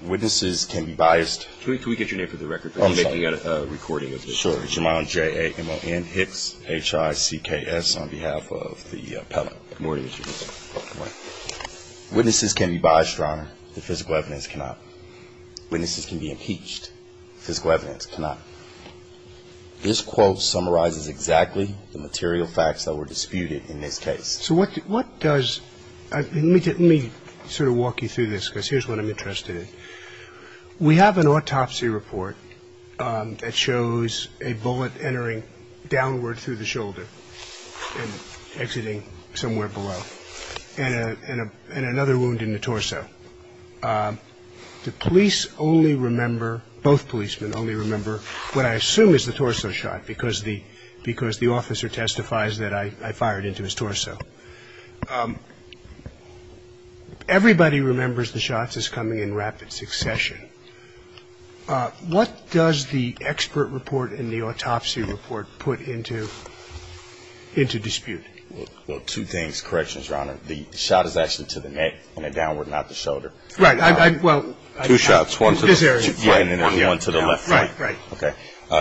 Witnesses can be biased, Your Honor. The physical evidence cannot. Witnesses can be impeached. Physical evidence cannot. This quote summarizes exactly the material facts that were disputed in this case. So what does – let me sort of walk you through this, because here's what I'm interested in. We have an autopsy report that shows a bullet entering downward through the shoulder and exiting somewhere below, and another wound in the torso. The police only remember – both policemen only remember what I assume is the torso shot, because the officer testifies that I fired into his torso. Everybody remembers the shots as coming in rapid succession. What does the expert report and the autopsy report put into – into dispute? Well, two things. Corrections, Your Honor. The shot is actually to the neck, and then downward, not the shoulder. Right. Well, I – Two shots, one to the – This area. Yeah, and then one to the left. Right, right. Okay.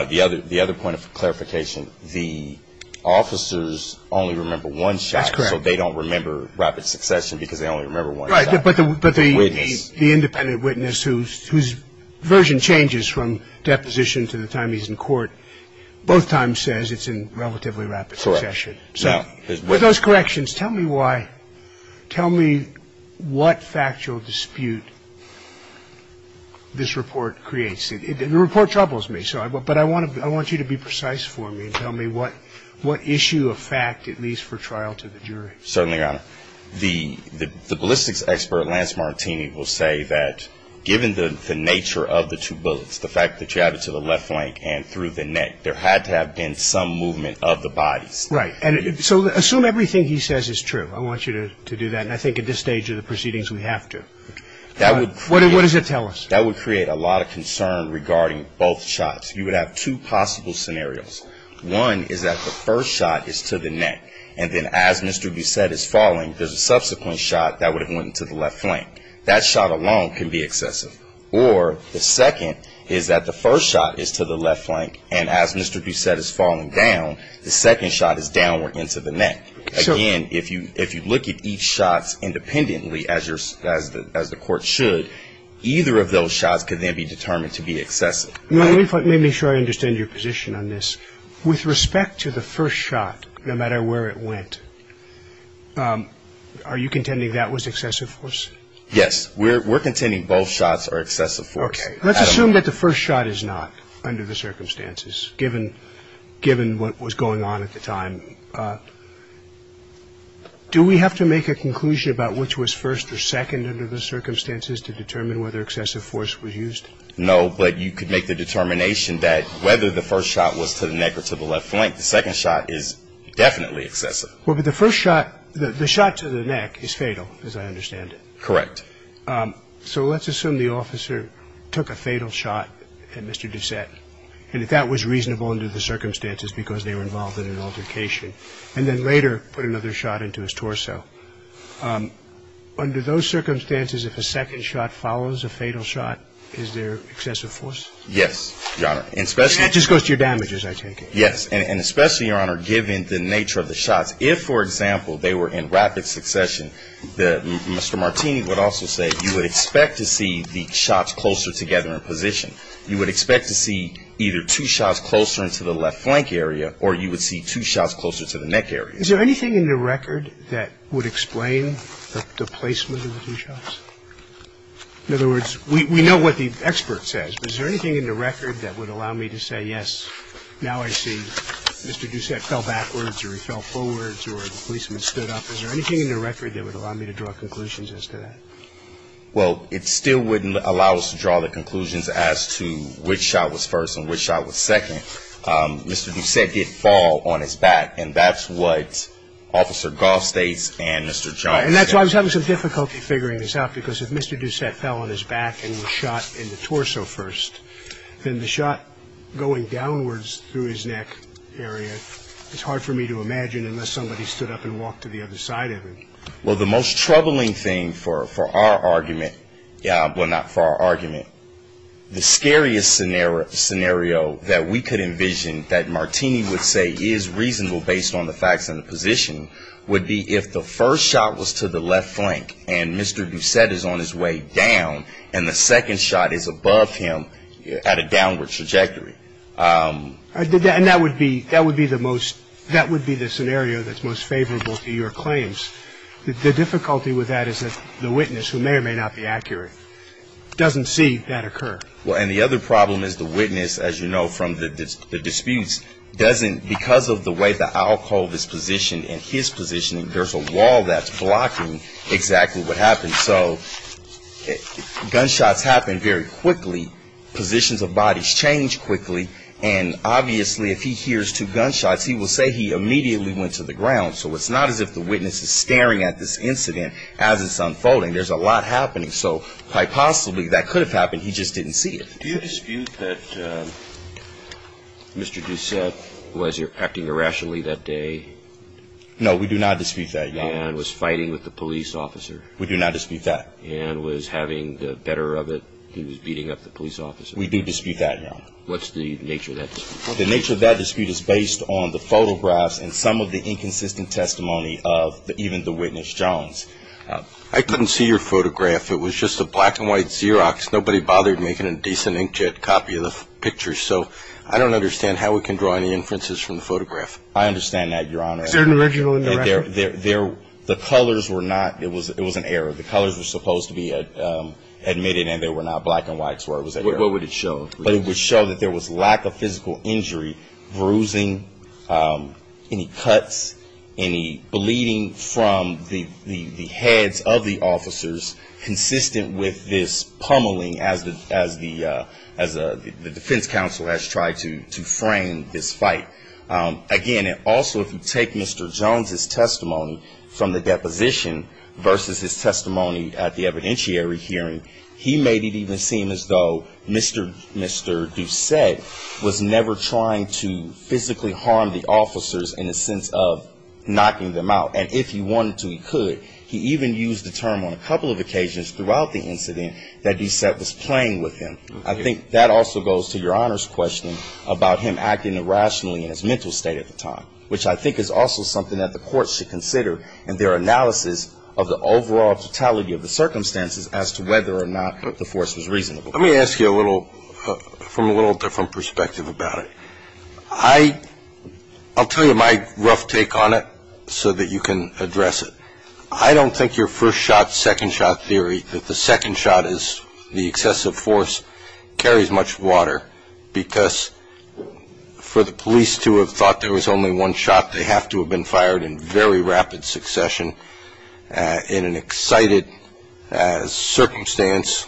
The other – the other point of clarification, the officers only remember one shot. That's correct. So they don't remember rapid succession, because they only remember one shot. Right, but the – Witness. The independent witness whose – whose version changes from deposition to the time he's in court, both times says it's in relatively rapid succession. Correct. So with those corrections, tell me why – tell me what factual dispute this report creates. The report troubles me, so – but I want to – I want you to be precise for me and tell me what – what issue of fact it leaves for trial to the jury. Certainly, Your Honor. The – the ballistics expert, Lance Martini, will say that given the – the nature of the two bullets, the fact that you have it to the left flank and through the neck, there had to have been some movement of the bodies. Right. And so assume everything he says is true. I want you to – to do that. And I think at this stage of the proceedings, we have to. That would create – What – what does it tell us? That would create a lot of concern regarding both shots. You would have two possible scenarios. One is that the first shot is to the neck, and then as Mr. Bousset is falling, there's a subsequent shot that would have went to the left flank. That shot alone can be excessive. Or the second is that the first shot is to the left flank, and as Mr. Bousset is falling down, the second shot is downward into the neck. Sure. Again, if you – if you look at each shot independently as your – as the – as the determined to be excessive. Let me – let me make sure I understand your position on this. With respect to the first shot, no matter where it went, are you contending that was excessive force? Yes. We're – we're contending both shots are excessive force. Okay. Let's assume that the first shot is not, under the circumstances, given – given what was going on at the time. Do we have to make a conclusion about which was first or second under the circumstances to determine whether excessive force was used? No, but you could make the determination that whether the first shot was to the neck or to the left flank, the second shot is definitely excessive. Well, but the first shot – the shot to the neck is fatal, as I understand it. Correct. So let's assume the officer took a fatal shot at Mr. Bousset, and that that was reasonable under the circumstances because they were involved in an altercation, and then later put another shot into his torso. Under those circumstances, if a second shot follows a fatal shot, is there excessive force? Yes, Your Honor. And especially – That just goes to your damages, I take it. Yes. And especially, Your Honor, given the nature of the shots, if, for example, they were in rapid succession, the – Mr. Martini would also say you would expect to see the shots closer together in position. You would expect to see either two shots closer into the left flank area, or you would see two shots closer to the neck area. Is there anything in the record that would explain the placement of the two shots? In other words, we know what the expert says, but is there anything in the record that would allow me to say, yes, now I see Mr. Bousset fell backwards or he fell forwards or the policeman stood up? Is there anything in the record that would allow me to draw conclusions as to that? Well, it still wouldn't allow us to draw the conclusions as to which shot was first and which shot was second. Mr. Bousset did fall on his back, and that's what Officer Goff states and Mr. Jones say. And that's why I was having some difficulty figuring this out, because if Mr. Bousset fell on his back and was shot in the torso first, then the shot going downwards through his neck area, it's hard for me to imagine unless somebody stood up and walked to the other side of him. Well, the most troubling thing for our argument – well, not for our argument – the scariest scenario that we could envision that Martini would say is reasonable based on the facts and the position would be if the first shot was to the left flank and Mr. Bousset is on his way down and the second shot is above him at a downward trajectory. And that would be the most – that would be the scenario that's most favorable to your claims. The difficulty with that is that the witness, who may or may not be accurate, doesn't see that occur. Well, and the other problem is the witness, as you know from the disputes, doesn't – because of the way the alcohol is positioned and his positioning, there's a wall that's blocking exactly what happens. So gunshots happen very quickly, positions of bodies change quickly, and obviously if he hears two gunshots, he will say he immediately went to the ground. So it's not as if the witness is staring at this incident as it's unfolding. There's a lot happening. So quite possibly that could have happened. He just didn't see it. Do you dispute that Mr. Bousset was acting irrationally that day? No, we do not dispute that, Your Honor. And was fighting with the police officer. We do not dispute that. And was having the better of it. He was beating up the police officer. We do dispute that, Your Honor. What's the nature of that dispute? The nature of that dispute is based on the photographs and some of the inconsistent testimony of even the witness, Jones. I couldn't see your photograph. It was just a black and white Xerox. Nobody bothered making a decent inkjet copy of the picture. So I don't understand how we can draw any inferences from the photograph. I understand that, Your Honor. Is there an original in the record? The colors were not, it was an error. The colors were supposed to be admitted and they were not black and white. What would it show? But it would show that there was lack of physical injury, bruising, any cuts, any bleeding from the heads of the officers consistent with this pummeling as the defense counsel has tried to frame this fight. Again, also, if you take Mr. Jones' testimony from the deposition versus his testimony at the evidentiary hearing, he made it even seem as though Mr. Doucette was never trying to physically harm the officers in the sense of knocking them out. And if he wanted to, he could. He even used the term on a couple of occasions throughout the incident that Doucette was playing with him. I think that also goes to Your Honor's question about him acting irrationally in his mental state at the time, which I think is also something that the court should consider in their analysis of the overall totality of the circumstances as to whether or not the force was reasonable. Let me ask you a little from a little different perspective about it. I'll tell you my rough take on it so that you can address it. I don't think your first shot, second shot theory that the second shot is the excessive force carries much water because for the police to have thought there was only one shot, they have to have been fired in very rapid succession in an excited circumstance.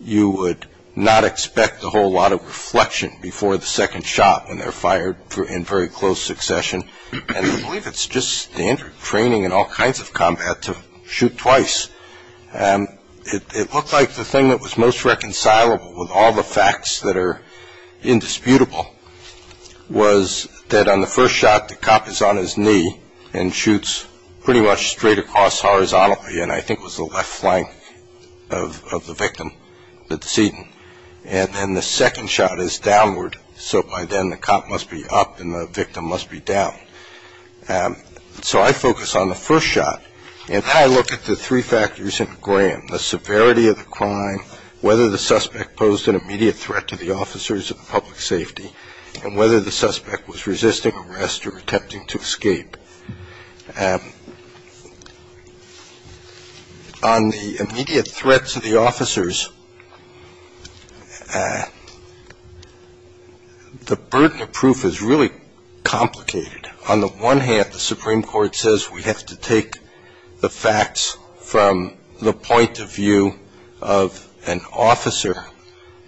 You would not expect a whole lot of reflection before the second shot when they're fired in very close succession. And I believe it's just standard training in all kinds of combat to shoot twice. It looked like the thing that was most reconcilable with all the facts that are indisputable was that on the first shot, the cop is on his knee and shoots pretty much straight across horizontally and I think was the left flank of the victim, the decedent. And then the second shot is downward, so by then the cop must be up and the victim must be down. So I focus on the first shot and how I look at the three factors in Graham, the severity of the crime, whether the suspect posed an immediate threat to the officers of public safety, and whether the suspect was resisting arrest or attempting to escape. On the immediate threats to the officers, the burden of proof is really complicated. On the one hand, the Supreme Court says we have to take the facts from the point of view of an officer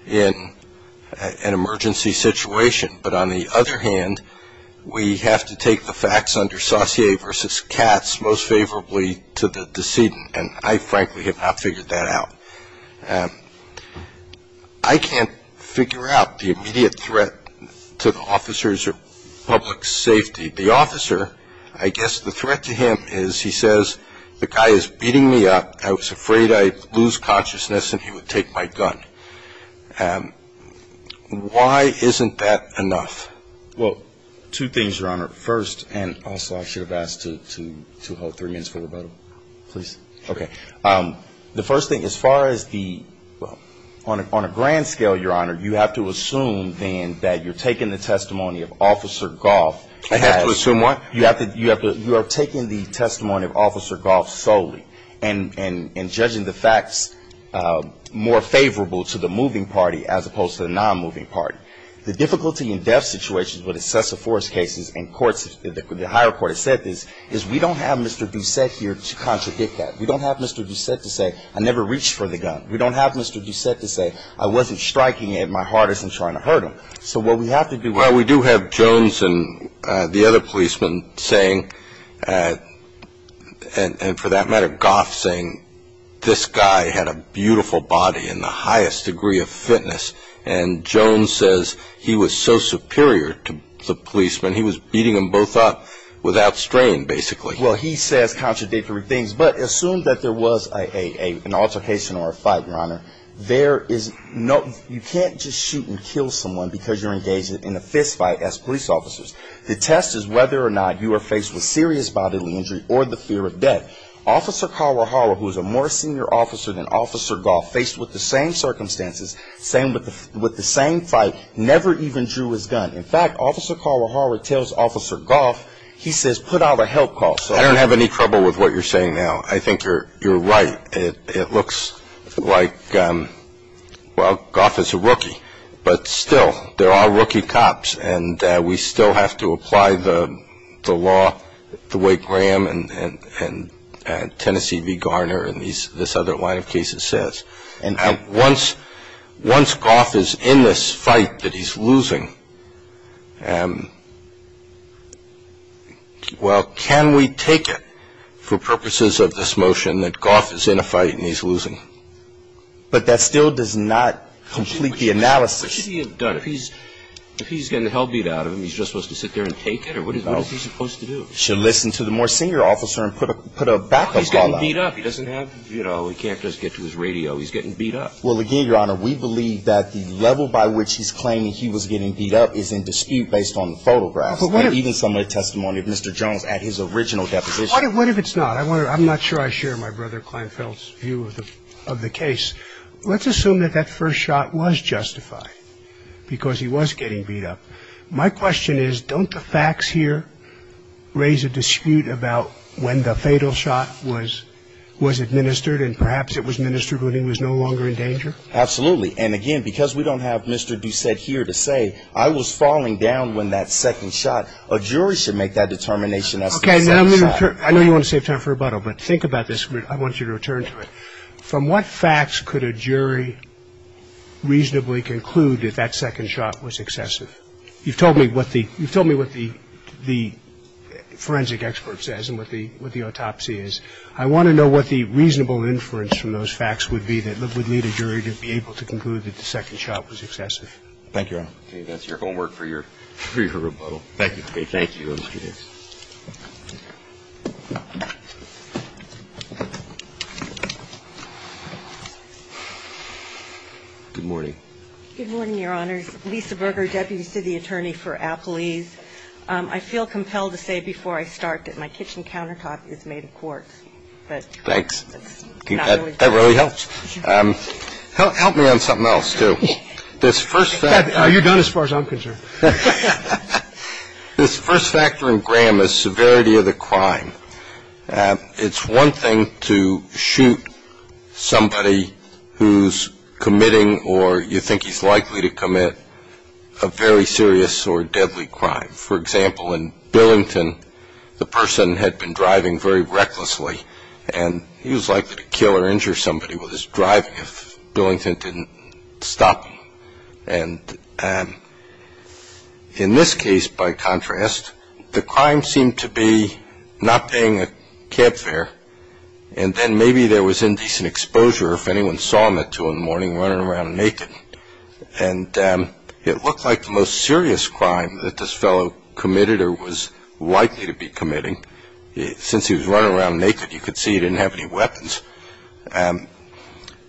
in an emergency situation, but on the other hand, we have to take the facts under saucier versus Katz most favorably to the decedent, and I frankly have not figured that out. I can't figure out the immediate threat to the officers of public safety. The officer, I guess the threat to him is he says the guy is beating me up, I was afraid I'd lose consciousness and he would take my gun. Why isn't that enough? Well, two things, Your Honor. First, and also I should have asked to hold three minutes for rebuttal. Please. Okay. The first thing, as far as the, well, on a grand scale, Your Honor, you have to assume then that you're taking the testimony of Officer Goff. I have to assume what? You are taking the testimony of Officer Goff solely and judging the facts more favorable to the moving party as opposed to the non-moving party. The difficulty in death situations with assessor force cases and courts, the higher court has said this, is we don't have Mr. Doucette here to contradict that. We don't have Mr. Doucette to say, I never reached for the gun. We don't have Mr. Doucette to say, I wasn't striking it, my heart isn't trying to hurt him. So what we have to do. And Jones and the other policeman saying, and for that matter, Goff saying, this guy had a beautiful body and the highest degree of fitness. And Jones says he was so superior to the policeman, he was beating them both up without strain, basically. Well, he says contradictory things. But assume that there was an altercation or a fight, Your Honor. You can't just shoot and kill someone because you're engaged in a fist fight as police officers. The test is whether or not you are faced with serious bodily injury or the fear of death. Officer Kawahara, who is a more senior officer than Officer Goff, faced with the same circumstances, with the same fight, never even drew his gun. In fact, Officer Kawahara tells Officer Goff, he says, put out a help call. I don't have any trouble with what you're saying now. I think you're right. It looks like, well, Goff is a rookie. But still, they're all rookie cops, and we still have to apply the law the way Graham and Tennessee v. Garner and this other line of cases says. Once Goff is in this fight that he's losing, well, can we take it for purposes of this motion that Goff is in a fight and he's losing? But that still does not complete the analysis. What should he have done? If he's getting the hell beat out of him, he's just supposed to sit there and take it? Or what is he supposed to do? He should listen to the more senior officer and put a backup call out. He's getting beat up. He doesn't have, you know, he can't just get to his radio. He's getting beat up. Well, again, Your Honor, we believe that the level by which he's claiming he was getting beat up is in dispute based on the photographs. And even some of the testimony of Mr. Jones at his original deposition. What if it's not? I'm not sure I share my brother Kleinfeld's view of the case. Let's assume that that first shot was justified because he was getting beat up. My question is don't the facts here raise a dispute about when the fatal shot was administered and perhaps it was administered when he was no longer in danger? Absolutely. And again, because we don't have Mr. Doucette here to say I was falling down when that second shot, a jury should make that determination as to the second shot. I know you want to save time for rebuttal, but think about this. I want you to return to it. From what facts could a jury reasonably conclude that that second shot was excessive? You've told me what the forensic expert says and what the autopsy is. I want to know what the reasonable inference from those facts would be that it would need a jury to be able to conclude that the second shot was excessive. Thank you, Your Honor. That's your homework for your rebuttal. Thank you. Thank you. Good morning. Good morning, Your Honors. Lisa Berger, deputy city attorney for Appalese. I feel compelled to say before I start that my kitchen countertop is made of quartz. Thanks. That really helps. Help me on something else, too. Are you done as far as I'm concerned? This first factor in Graham is severity of the crime. It's one thing to shoot somebody who's committing or you think he's likely to commit a very serious or deadly crime. For example, in Billington, the person had been driving very recklessly, and he was likely to kill or injure somebody with his driving if Billington didn't stop him. And in this case, by contrast, the crime seemed to be not paying a cab fare, and then maybe there was indecent exposure if anyone saw him at 2 in the morning running around naked. And it looked like the most serious crime that this fellow committed or was likely to be committing. Since he was running around naked, you could see he didn't have any weapons.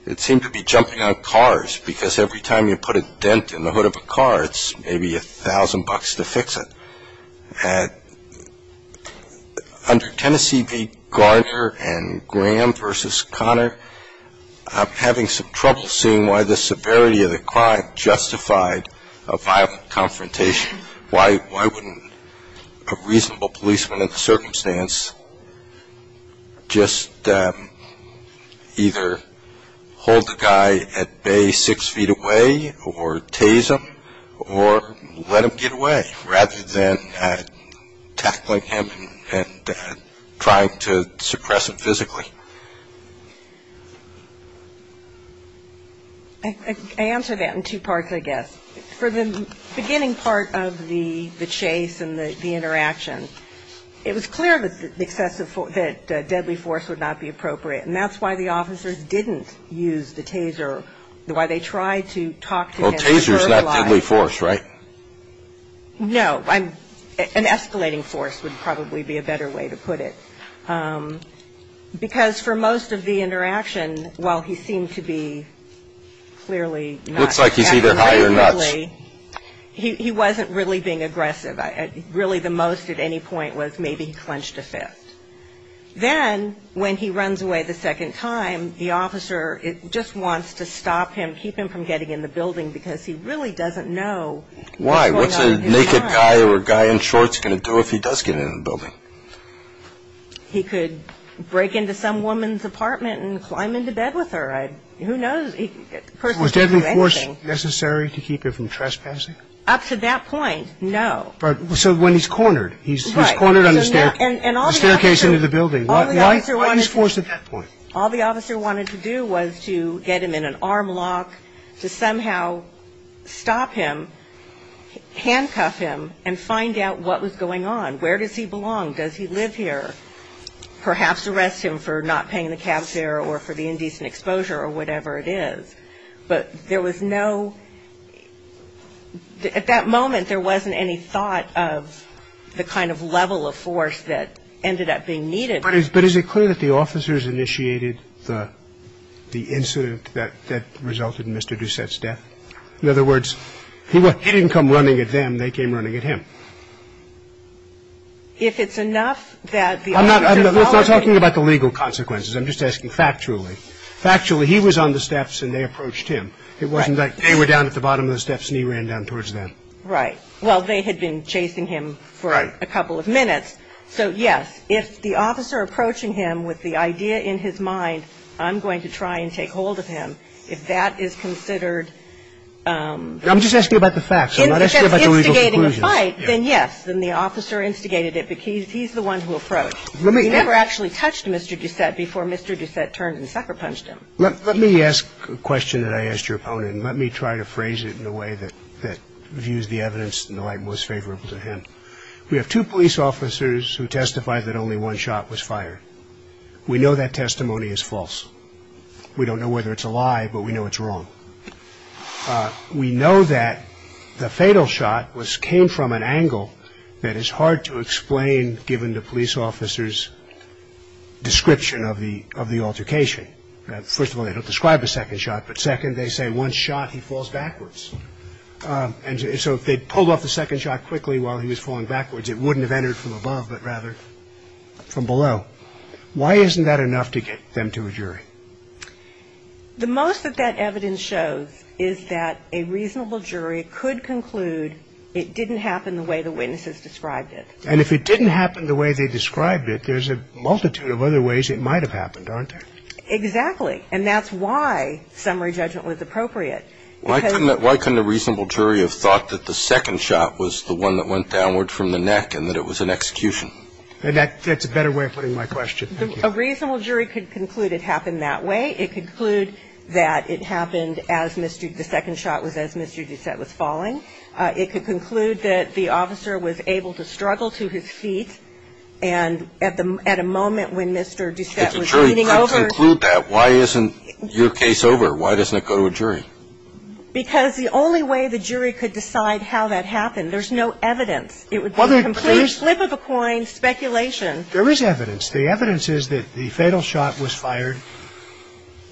It seemed to be jumping on cars because every time you put a dent in the hood of a car, it's maybe $1,000 to fix it. Under Tennessee v. Garner and Graham v. Conner, I'm having some trouble seeing why the severity of the crime justified a violent confrontation. Why wouldn't a reasonable policeman in the circumstance just either hold the guy at bay six feet away or tase him or let him get away rather than tackling him and trying to suppress him physically? I answer that in two parts, I guess. For the beginning part of the chase and the interaction, it was clear that deadly force would not be appropriate, and that's why the officers didn't use the taser, why they tried to talk to him. Well, taser's not deadly force, right? No. An escalating force would probably be a better way to put it. Because for most of the interaction, while he seemed to be clearly nuts. Looks like he's either high or nuts. He wasn't really being aggressive. Really the most at any point was maybe he clenched a fist. Then when he runs away the second time, the officer just wants to stop him, keep him from getting in the building because he really doesn't know what's going on inside. Why? What's a naked guy or a guy in shorts going to do if he does get in the building? He could break into some woman's apartment and climb into bed with her. Who knows? Was deadly force necessary to keep him from trespassing? Up to that point, no. So when he's cornered. Right. He's cornered on the staircase into the building. Why was force at that point? All the officer wanted to do was to get him in an arm lock, to somehow stop him, handcuff him, and find out what was going on. Where does he belong? Does he live here? Perhaps arrest him for not paying the cab fare or for the indecent exposure or whatever it is. But there was no – at that moment, there wasn't any thought of the kind of level of force that ended up being needed. But is it clear that the officers initiated the incident that resulted in Mr. Doucette's death? In other words, he didn't come running at them. They came running at him. If it's enough that the officers followed him. I'm not talking about the legal consequences. I'm just asking factually. Factually, he was on the steps and they approached him. It wasn't like they were down at the bottom of the steps and he ran down towards them. Right. Well, they had been chasing him for a couple of minutes. Right. So, yes, if the officer approaching him with the idea in his mind, I'm going to try and take hold of him, if that is considered – I'm just asking about the facts. I'm not asking about the legal conclusions. Instigating a fight, then yes. Then the officer instigated it because he's the one who approached. Let me – He never actually touched Mr. Doucette before Mr. Doucette turned and sucker punched him. Let me ask a question that I asked your opponent, and let me try to phrase it in a way that views the evidence in the light most favorable to him. We have two police officers who testified that only one shot was fired. We know that testimony is false. We don't know whether it's a lie, but we know it's wrong. We know that the fatal shot was – came from an angle that is hard to explain given the police officer's description of the – of the altercation. First of all, they don't describe the second shot. But second, they say one shot, he falls backwards. And so if they pulled off the second shot quickly while he was falling backwards, it wouldn't have entered from above, but rather from below. Why isn't that enough to get them to a jury? The most that that evidence shows is that a reasonable jury could conclude it didn't happen the way the witnesses described it. And if it didn't happen the way they described it, there's a multitude of other ways it might have happened, aren't there? Exactly. And that's why summary judgment was appropriate. Why couldn't – why couldn't a reasonable jury have thought that the second shot was the one that went downward from the neck and that it was an execution? That's a better way of putting my question. A reasonable jury could conclude it happened that way. It could conclude that it happened as Mr. – the second shot was as Mr. Doucette was falling. It could conclude that the officer was able to struggle to his feet. And at the – at a moment when Mr. Doucette was leaning over – If a jury could conclude that, why isn't your case over? Why doesn't it go to a jury? Because the only way the jury could decide how that happened, there's no evidence. It would be a complete slip of a coin speculation. There is evidence. The evidence is that the fatal shot was fired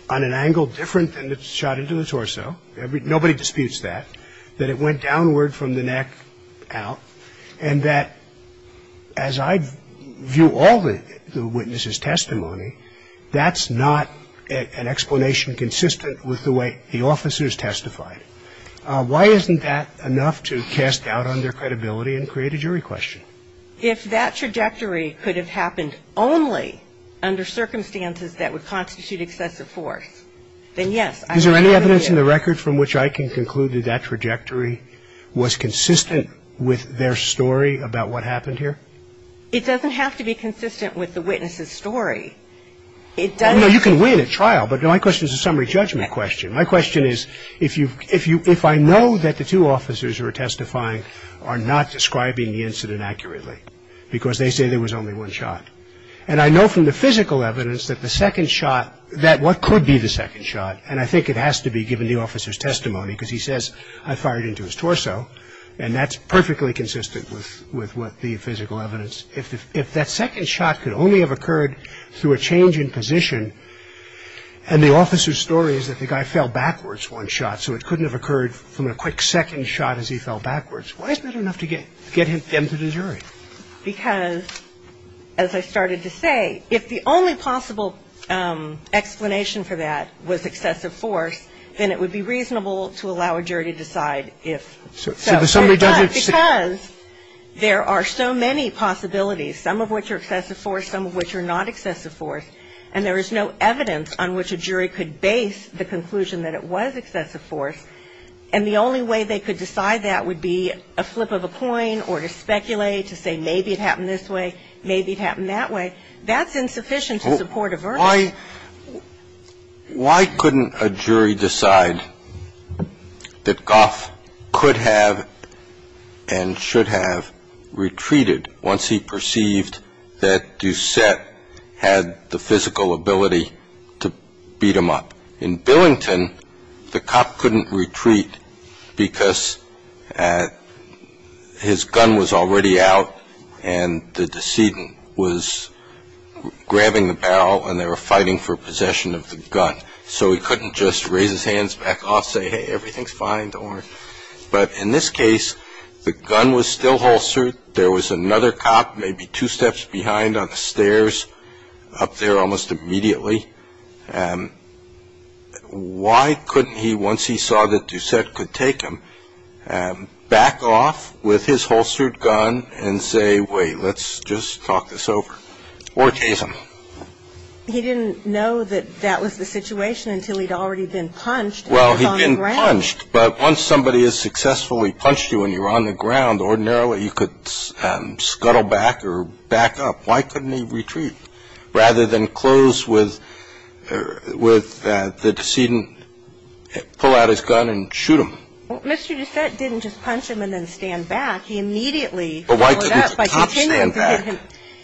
on an angle different than the shot into the torso. Nobody disputes that. That it went downward from the neck out. And that, as I view all the witnesses' testimony, that's not an explanation consistent with the way the officers testified. Why isn't that enough to cast doubt on their credibility and create a jury question? If that trajectory could have happened only under circumstances that would constitute excessive force, then yes, I agree with you. Is there any evidence in the record from which I can conclude that that trajectory was consistent with their story about what happened here? It doesn't have to be consistent with the witness' story. It doesn't have to be. Well, no, you can win at trial. But my question is a summary judgment question. My question is if I know that the two officers who are testifying are not describing the incident accurately, because they say there was only one shot, and I know from the physical evidence that the second shot, that what could be the second shot, and I think it has to be given the officer's testimony because he says, I fired into his torso, and that's perfectly consistent with what the physical evidence, if that second shot could only have occurred through a change in position and the officer's story is that the guy fell backwards one shot, so it couldn't have occurred from a quick second shot as he fell backwards. Why isn't that enough to get them to the jury? Because, as I started to say, if the only possible explanation for that was excessive force, then it would be reasonable to allow a jury to decide if. So the summary judgment. Because there are so many possibilities, some of which are excessive force, some of which are not excessive force, and there is no evidence on which a jury could base the conclusion that it was excessive force, and the only way they could decide that would be a flip of a coin or to speculate, to say maybe it happened this way, maybe it happened that way. That's insufficient to support a verdict. Why couldn't a jury decide that Goff could have and should have retreated once he perceived that Doucette had the physical ability to beat him up? In Billington, the cop couldn't retreat because his gun was already out and the decedent was grabbing the barrel and they were fighting for possession of the gun. So he couldn't just raise his hands back off, say, hey, everything's fine, don't worry. But in this case, the gun was still holstered. There was another cop maybe two steps behind on the stairs up there almost immediately. Why couldn't he, once he saw that Doucette could take him, back off with his holstered gun and say, wait, let's just talk this over, or chase him? He didn't know that that was the situation until he'd already been punched. Well, he'd been punched. But once somebody has successfully punched you and you're on the ground, ordinarily you could scuttle back or back up. Why couldn't he retreat? Rather than close with the decedent, pull out his gun and shoot him. Well, Mr. Doucette didn't just punch him and then stand back. He immediately followed up by continuing to hit him. But why couldn't the cop stand back?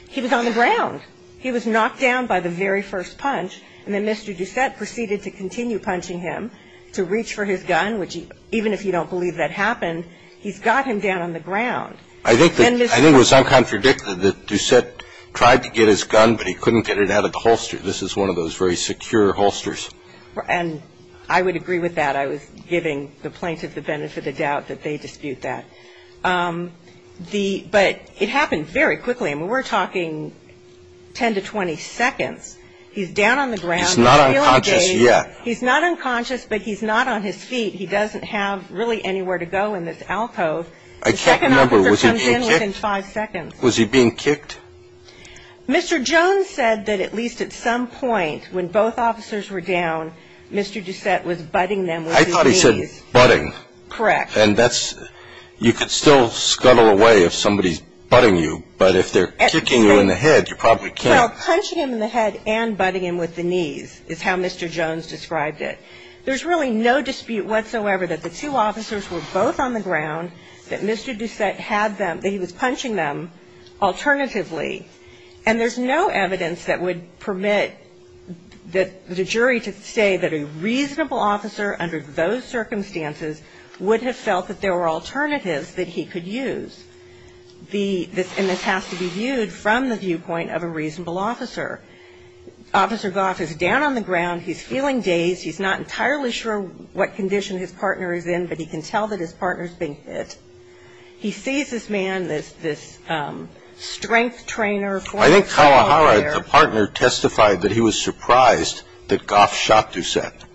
He was on the ground. He was knocked down by the very first punch, and then Mr. Doucette proceeded to continue punching him to reach for his gun, which even if you don't believe that happened, he's got him down on the ground. I think it was uncontradicted that Doucette tried to get his gun, but he couldn't get it out of the holster. This is one of those very secure holsters. And I would agree with that. I was giving the plaintiff the benefit of the doubt that they dispute that. But it happened very quickly. I mean, we're talking 10 to 20 seconds. He's down on the ground. He's not unconscious yet. He's not unconscious, but he's not on his feet. He doesn't have really anywhere to go in this alcove. The second officer comes in within five seconds. Was he being kicked? Mr. Jones said that at least at some point when both officers were down, Mr. Doucette was butting them with his knees. I thought he said butting. Correct. And that's you could still scuttle away if somebody's butting you, but if they're kicking you in the head, you probably can't. Well, punching him in the head and butting him with the knees is how Mr. Jones described it. There's really no dispute whatsoever that the two officers were both on the ground, that Mr. Doucette had them, that he was punching them alternatively. And there's no evidence that would permit the jury to say that a reasonable officer under those circumstances would have felt that there were alternatives that he could use. And this has to be viewed from the viewpoint of a reasonable officer. Officer Goff is down on the ground. He's feeling dazed. He's not entirely sure what condition his partner is in, but he can tell that his partner is being hit. He sees this man, this strength trainer. I think Kawahara, the partner, testified that he was surprised that Goff shot Doucette.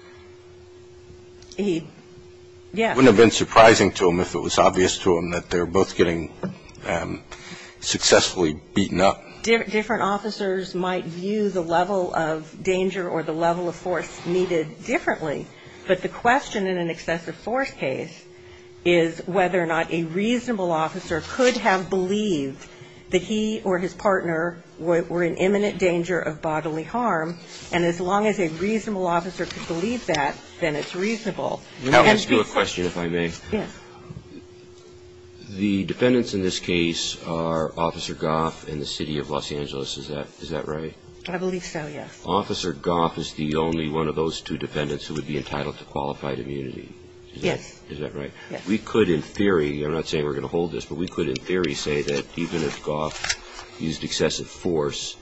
He, yes. It wouldn't have been surprising to him if it was obvious to him that they're both getting successfully beaten up. Different officers might view the level of danger or the level of force needed differently, but the question in an excessive force case is whether or not a reasonable officer could have believed that he or his partner were in imminent danger of bodily harm. And as long as a reasonable officer could believe that, then it's reasonable. And it's consistent. Let me ask you a question, if I may. Yes. The defendants in this case are Officer Goff and the city of Los Angeles. Is that right? I believe so, yes. Officer Goff is the only one of those two defendants who would be entitled to qualified immunity. Yes. Is that right? Yes. We could in theory, I'm not saying we're going to hold this, but we could in theory say that even if Goff used excessive force,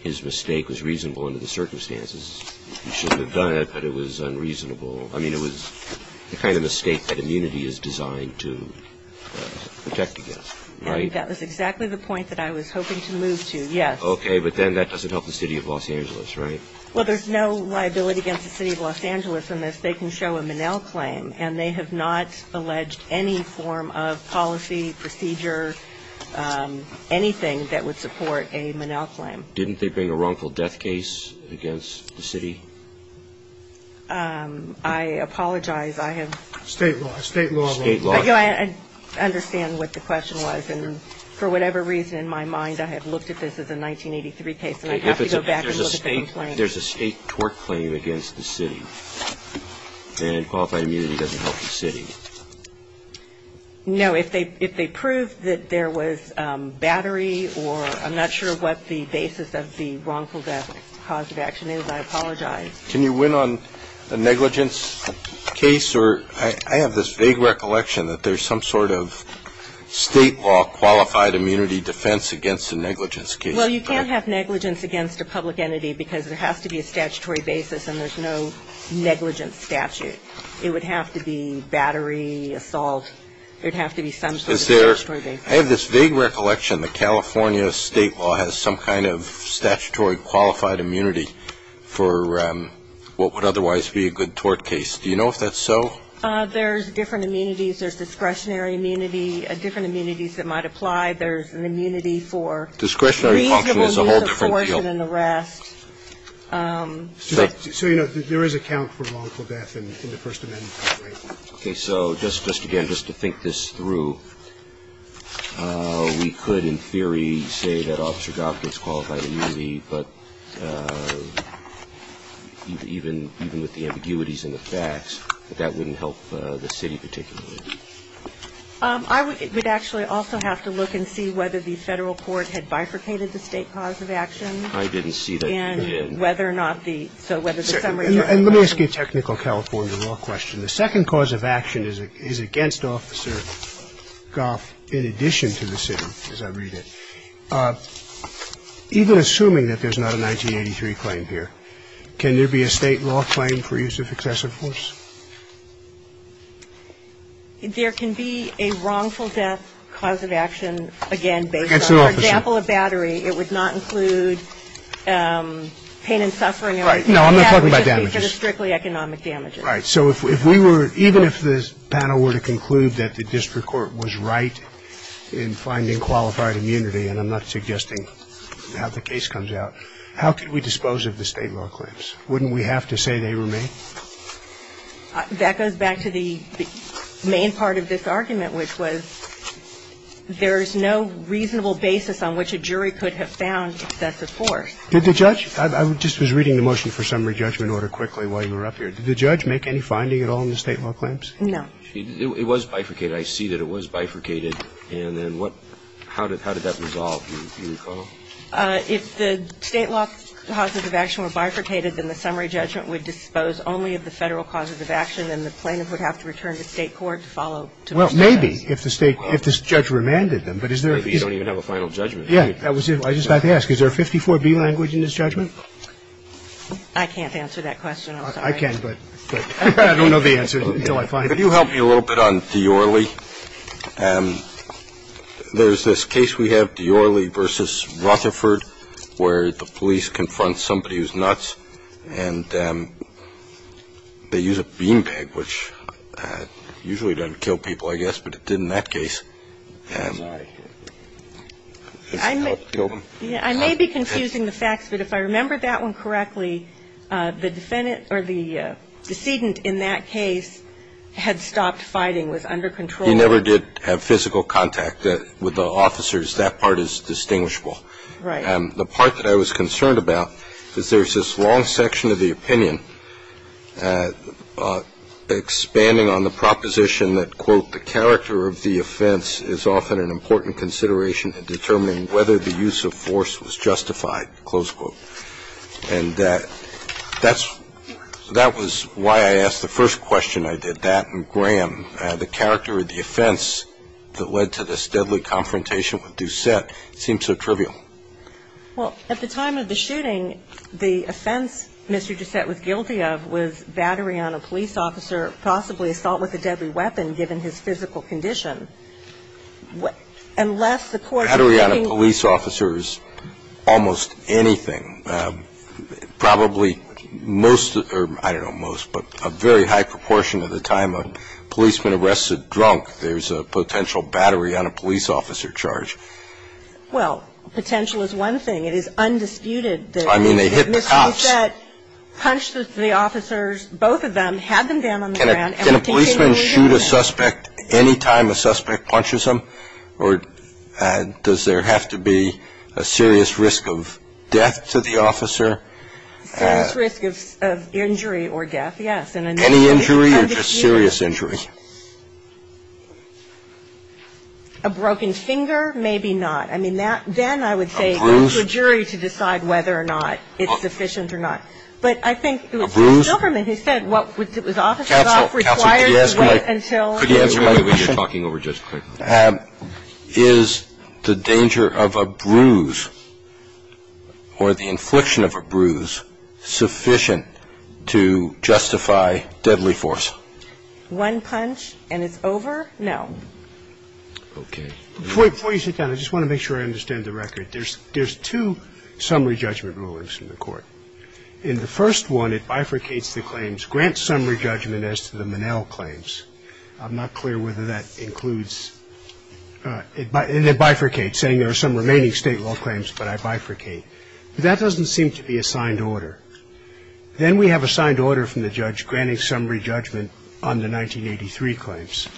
his mistake was reasonable under the circumstances. He shouldn't have done it, but it was unreasonable. I mean, it was the kind of mistake that immunity is designed to protect against, right? That was exactly the point that I was hoping to move to, yes. Okay. But then that doesn't help the city of Los Angeles, right? Well, there's no liability against the city of Los Angeles in this. They can show a Monell claim, and they have not alleged any form of policy, procedure, anything that would support a Monell claim. Didn't they bring a wrongful death case against the city? I apologize. I have state law. State law. State law. I understand what the question was. I'm not sure what the basis of the wrongful death cause of action is. I apologize. Can you win on a negligence case? Or I have this vague recollection that there's some sort of state law claim against I apologize. Can you win on a negligence case? Well, you can't have negligence against a public entity because there has to be a statutory basis, and there's no negligence statute. It would have to be battery, assault. There would have to be some sort of statutory basis. I have this vague recollection that California state law has some kind of statutory qualified immunity for what would otherwise be a good tort case. Do you know if that's so? There's different immunities. There's discretionary immunity. There's discretionary function. There's a whole different deal. So, you know, there is a count for wrongful death in the First Amendment copyright. Okay. So just again, just to think this through, we could in theory say that Officer Goff gets qualified immunity, but even with the ambiguities in the facts, that wouldn't help the city particularly. I would actually also have to look and see whether the Federal court had bifurcated the state cause of action. I didn't see that. And whether or not the so whether the summary of the case. And let me ask you a technical California law question. The second cause of action is against Officer Goff in addition to the city, as I read it. Even assuming that there's not a 1983 claim here, can there be a state law claim for use of excessive force? There can be a wrongful death cause of action, again, based on. Against an officer. For example, a battery. It would not include pain and suffering. Right. No, I'm not talking about damages. It would just be for the strictly economic damages. Right. So if we were, even if the panel were to conclude that the district court was right in finding qualified immunity, and I'm not suggesting how the case comes out, how could we dispose of the state law claims? Wouldn't we have to say they were made? That goes back to the main part of this argument, which was there's no reasonable basis on which a jury could have found excessive force. Did the judge – I just was reading the motion for summary judgment order quickly while you were up here. Did the judge make any finding at all in the state law claims? No. It was bifurcated. I see that it was bifurcated. And then what – how did that resolve, do you recall? If the state law causes of action were bifurcated, then the summary judgment would dispose only of the Federal causes of action, and the plaintiff would have to return to state court to follow to the state laws. Well, maybe if the state – if this judge remanded them. But is there a – Maybe you don't even have a final judgment. Yeah. I was just about to ask, is there a 54B language in this judgment? I can't answer that question. I'm sorry. I can, but I don't know the answer until I find it. Could you help me a little bit on Diorle? There's this case we have, Diorle v. Rutherford, where the police confront somebody and they use nuts and they use a bean peg, which usually doesn't kill people, I guess, but it did in that case. I'm sorry. I may be confusing the facts, but if I remember that one correctly, the defendant or the decedent in that case had stopped fighting, was under control. He never did have physical contact with the officers. That part is distinguishable. Right. The part that I was concerned about is there's this long section of the opinion expanding on the proposition that, quote, the character of the offense is often an important consideration in determining whether the use of force was justified, close quote. And that was why I asked the first question I did. That and Graham, the character of the offense that led to this deadly confrontation with Doucette seemed so trivial. Well, at the time of the shooting, the offense Mr. Doucette was guilty of was battery on a police officer, possibly assault with a deadly weapon, given his physical condition. Unless the court's thinking of the case as a case of a deadly weapon, battery on a police officer is almost anything. Probably most, or I don't know most, but a very high proportion of the time a policeman arrests a drunk, there's a potential battery on a police officer charge. Well, potential is one thing. It is undisputed that Mr. Doucette punched the officers, both of them, had them down on the ground. Can a policeman shoot a suspect any time a suspect punches him, or does there have to be a serious risk of death to the officer? A serious risk of injury or death, yes. Any injury or just serious injury? A broken finger, maybe not. I mean, then I would say it goes to a jury to decide whether or not it's sufficient or not. A bruise? A bruise? Counsel, could you answer my question? Is the danger of a bruise or the infliction of a bruise sufficient to justify deadly force? One punch and it's over? No. Okay. Before you sit down, I just want to make sure I understand the record. There's two summary judgment rulings in the court. In the first one, it bifurcates the claims, grants summary judgment as to the Monell claims. I'm not clear whether that includes, it bifurcates, saying there are some remaining state law claims, but I bifurcate. That doesn't seem to be a signed order. Then we have a signed order from the judge granting summary judgment on the 1983 claims.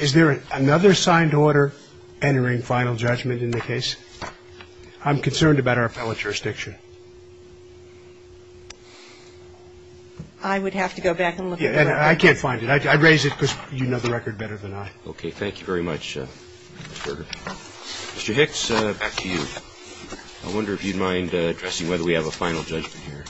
Is there another signed order entering final judgment in the case? I'm concerned about our appellate jurisdiction. I would have to go back and look at that. I can't find it. I'd raise it because you know the record better than I. Okay. Thank you very much, Mr. Gerger. Mr. Hicks, back to you. I wonder if you'd mind addressing whether we have a final judgment here.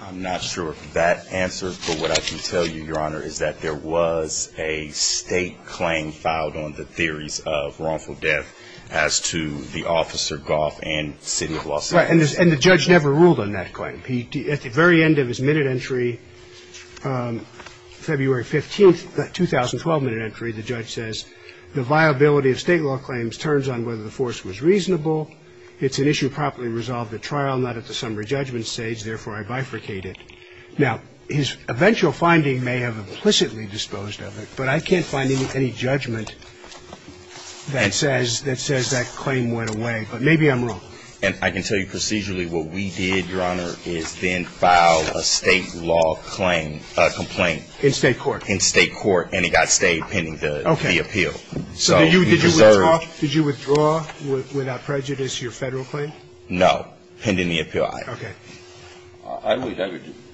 I'm not sure of that answer, but what I can tell you, Your Honor, is that there was a state claim filed on the theories of wrongful death as to the officer, Goff, and city of Los Angeles. Right. And the judge never ruled on that claim. At the very end of his minute entry, February 15th, that 2012 minute entry, the judge says the viability of state law claims turns on whether the force was reasonable. It's an issue properly resolved at trial, not at the summary judgment stage. Therefore, I bifurcate it. Now, his eventual finding may have implicitly disposed of it, but I can't find any judgment that says that claim went away. But maybe I'm wrong. And I can tell you procedurally what we did, Your Honor, is then file a state law complaint. In state court. In state court. And it got stayed pending the appeal. Okay. So did you withdraw, without prejudice, your Federal claim? No. Pending the appeal, aye. Okay.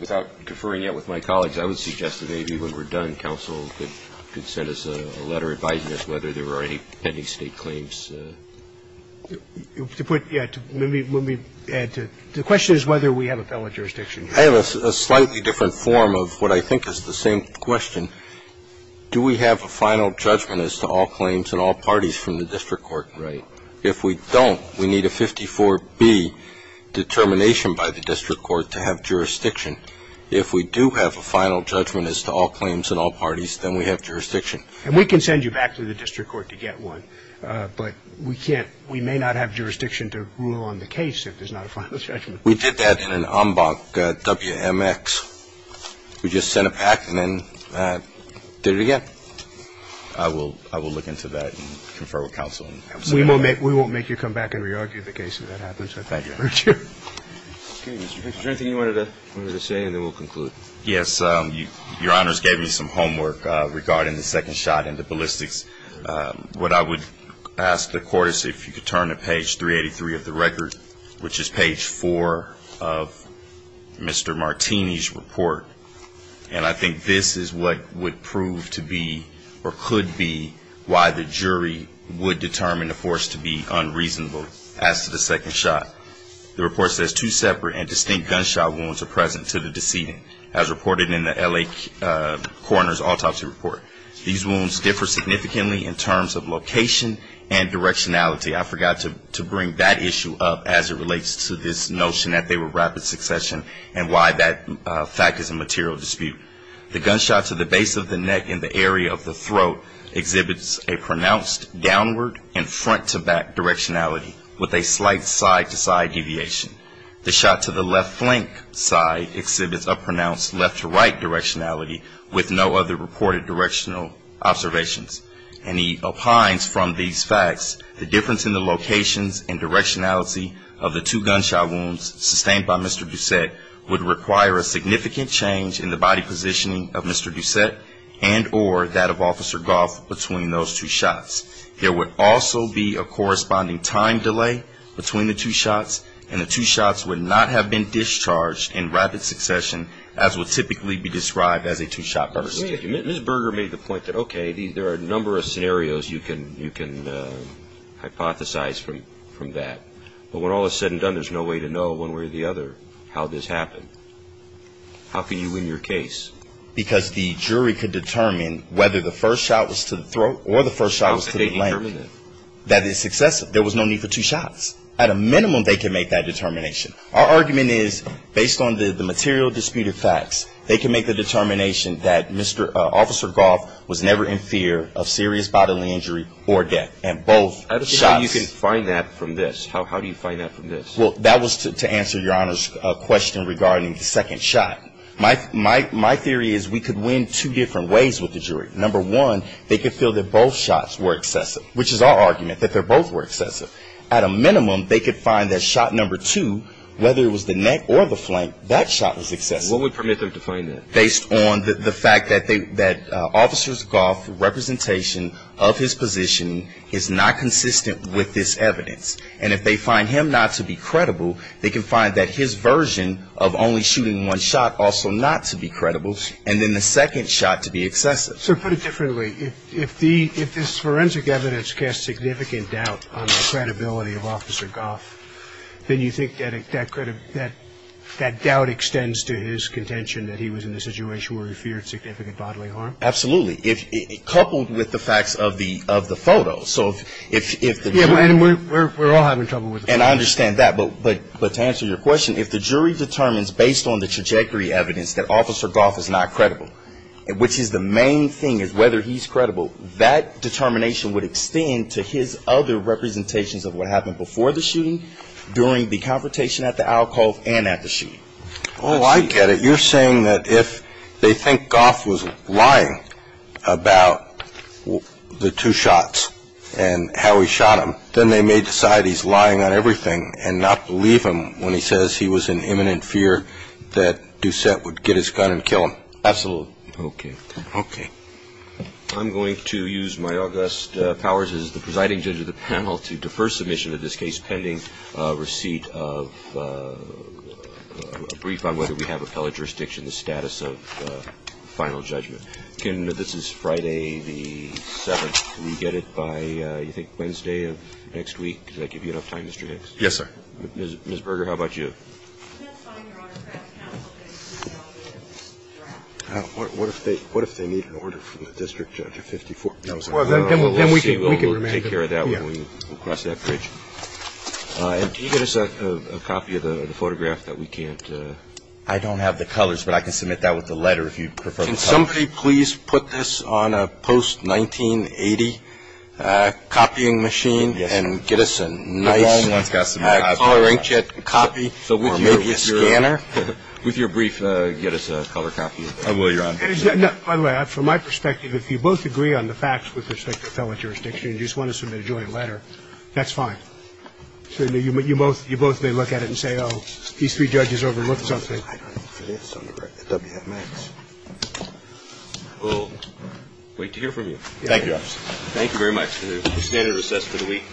Without deferring yet with my colleagues, I would suggest that maybe when we're done, counsel could send us a letter advising us whether there were any pending state claims. To put, yeah, let me add to it. The question is whether we have a fellow jurisdiction. I have a slightly different form of what I think is the same question. Do we have a final judgment as to all claims and all parties from the district court? Right. If we don't, we need a 54B determination by the district court to have jurisdiction. If we do have a final judgment as to all claims and all parties, then we have jurisdiction. And we can send you back to the district court to get one. But we can't. We may not have jurisdiction to rule on the case if there's not a final judgment. We did that in an en banc WMX. We just sent a PAC and then did it again. I will look into that and confer with counsel. We won't make you come back and re-argue the case if that happens. Thank you. Is there anything you wanted to say? And then we'll conclude. Yes. Your Honors gave me some homework regarding the second shot and the ballistics. What I would ask the court is if you could turn to page 383 of the record, which is page 4 of Mr. Martini's report. And I think this is what would prove to be or could be why the jury would determine the force to be unreasonable as to the second shot. The report says two separate and distinct gunshot wounds are present to the decedent as reported in the LA coroner's autopsy report. These wounds differ significantly in terms of location and directionality. I forgot to bring that issue up as it relates to this notion that they were rapid succession and why that fact is a material dispute. The gunshot to the base of the neck and the area of the throat exhibits a pronounced downward and front-to-back directionality with a slight side-to-side deviation. The shot to the left flank side exhibits a pronounced left-to-right directionality with no other reported directional observations. And he opines from these facts the difference in the locations and directionality of the two gunshot wounds sustained by Mr. Doucette would require a significant change in the body positioning of Mr. Doucette and or that of Officer Goff between those two shots. There would also be a corresponding time delay between the two shots and the two shots would not have been discharged in rapid succession as would typically be described as a two-shot burst. I mean, Ms. Berger made the point that, okay, there are a number of scenarios you can hypothesize from that. But when all is said and done, there's no way to know one way or the other how this happened. How can you win your case? Because the jury could determine whether the first shot was to the throat or the first shot was to the leg. That is successive. There was no need for two shots. At a minimum, they can make that determination. Our argument is, based on the material disputed facts, they can make the determination that Officer Goff was never in fear of serious bodily injury or death. And both shots. How do you find that from this? How do you find that from this? Well, that was to answer Your Honor's question regarding the second shot. My theory is we could win two different ways with the jury. Number one, they could feel that both shots were excessive, which is our argument, that they both were excessive. At a minimum, they could find that shot number two, whether it was the neck or the flank, that shot was excessive. What would permit them to find that? Based on the fact that Officer Goff's representation of his position is not consistent with this evidence. And if they find him not to be credible, they can find that his version of only shooting one shot also not to be credible. And then the second shot to be excessive. Sir, put it differently. If this forensic evidence casts significant doubt on the credibility of Officer Goff, then you think that that doubt extends to his contention that he was in this situation where he feared significant bodily harm? Absolutely. Coupled with the facts of the photo. So if the jury. We're all having trouble with the photo. And I understand that. But to answer your question, if the jury determines based on the trajectory evidence that Officer Goff is not credible, which is the main thing is whether he's credible, that determination would extend to his other representations of what happened before the shooting, during the confrontation at the alcove, and at the shooting. Oh, I get it. You're saying that if they think Goff was lying about the two shots and how he shot him, then they may decide he's lying on everything and not believe him when he says he was in imminent fear that Doucette would get his gun and kill him. Absolutely. Okay. Okay. I'm going to use my august powers as the presiding judge of the panel to defer submission of this case pending receipt of a brief on whether we have appellate jurisdiction, the status of final judgment. This is Friday the 7th. Can we get it by, I think, Wednesday of next week? Does that give you enough time, Mr. Hicks? Yes, sir. Ms. Berger, how about you? What if they need an order from the district judge at 54? Well, then we can take care of that when we cross that bridge. And can you get us a copy of the photograph that we can't? I don't have the colors, but I can submit that with the letter if you prefer. Can somebody please put this on a post-1980 copying machine and get us a nice color inkjet copy, or maybe a scanner? With your brief, get us a color copy. I will, Your Honor. By the way, from my perspective, if you both agree on the facts with respect to appellate jurisdiction and you just want to submit a joint letter, that's fine. You both may look at it and say, oh, these three judges overlooked something. I don't know if it is under WMX. We'll wait to hear from you. Thank you, Your Honor. Thank you very much. The standard is assessed for the week.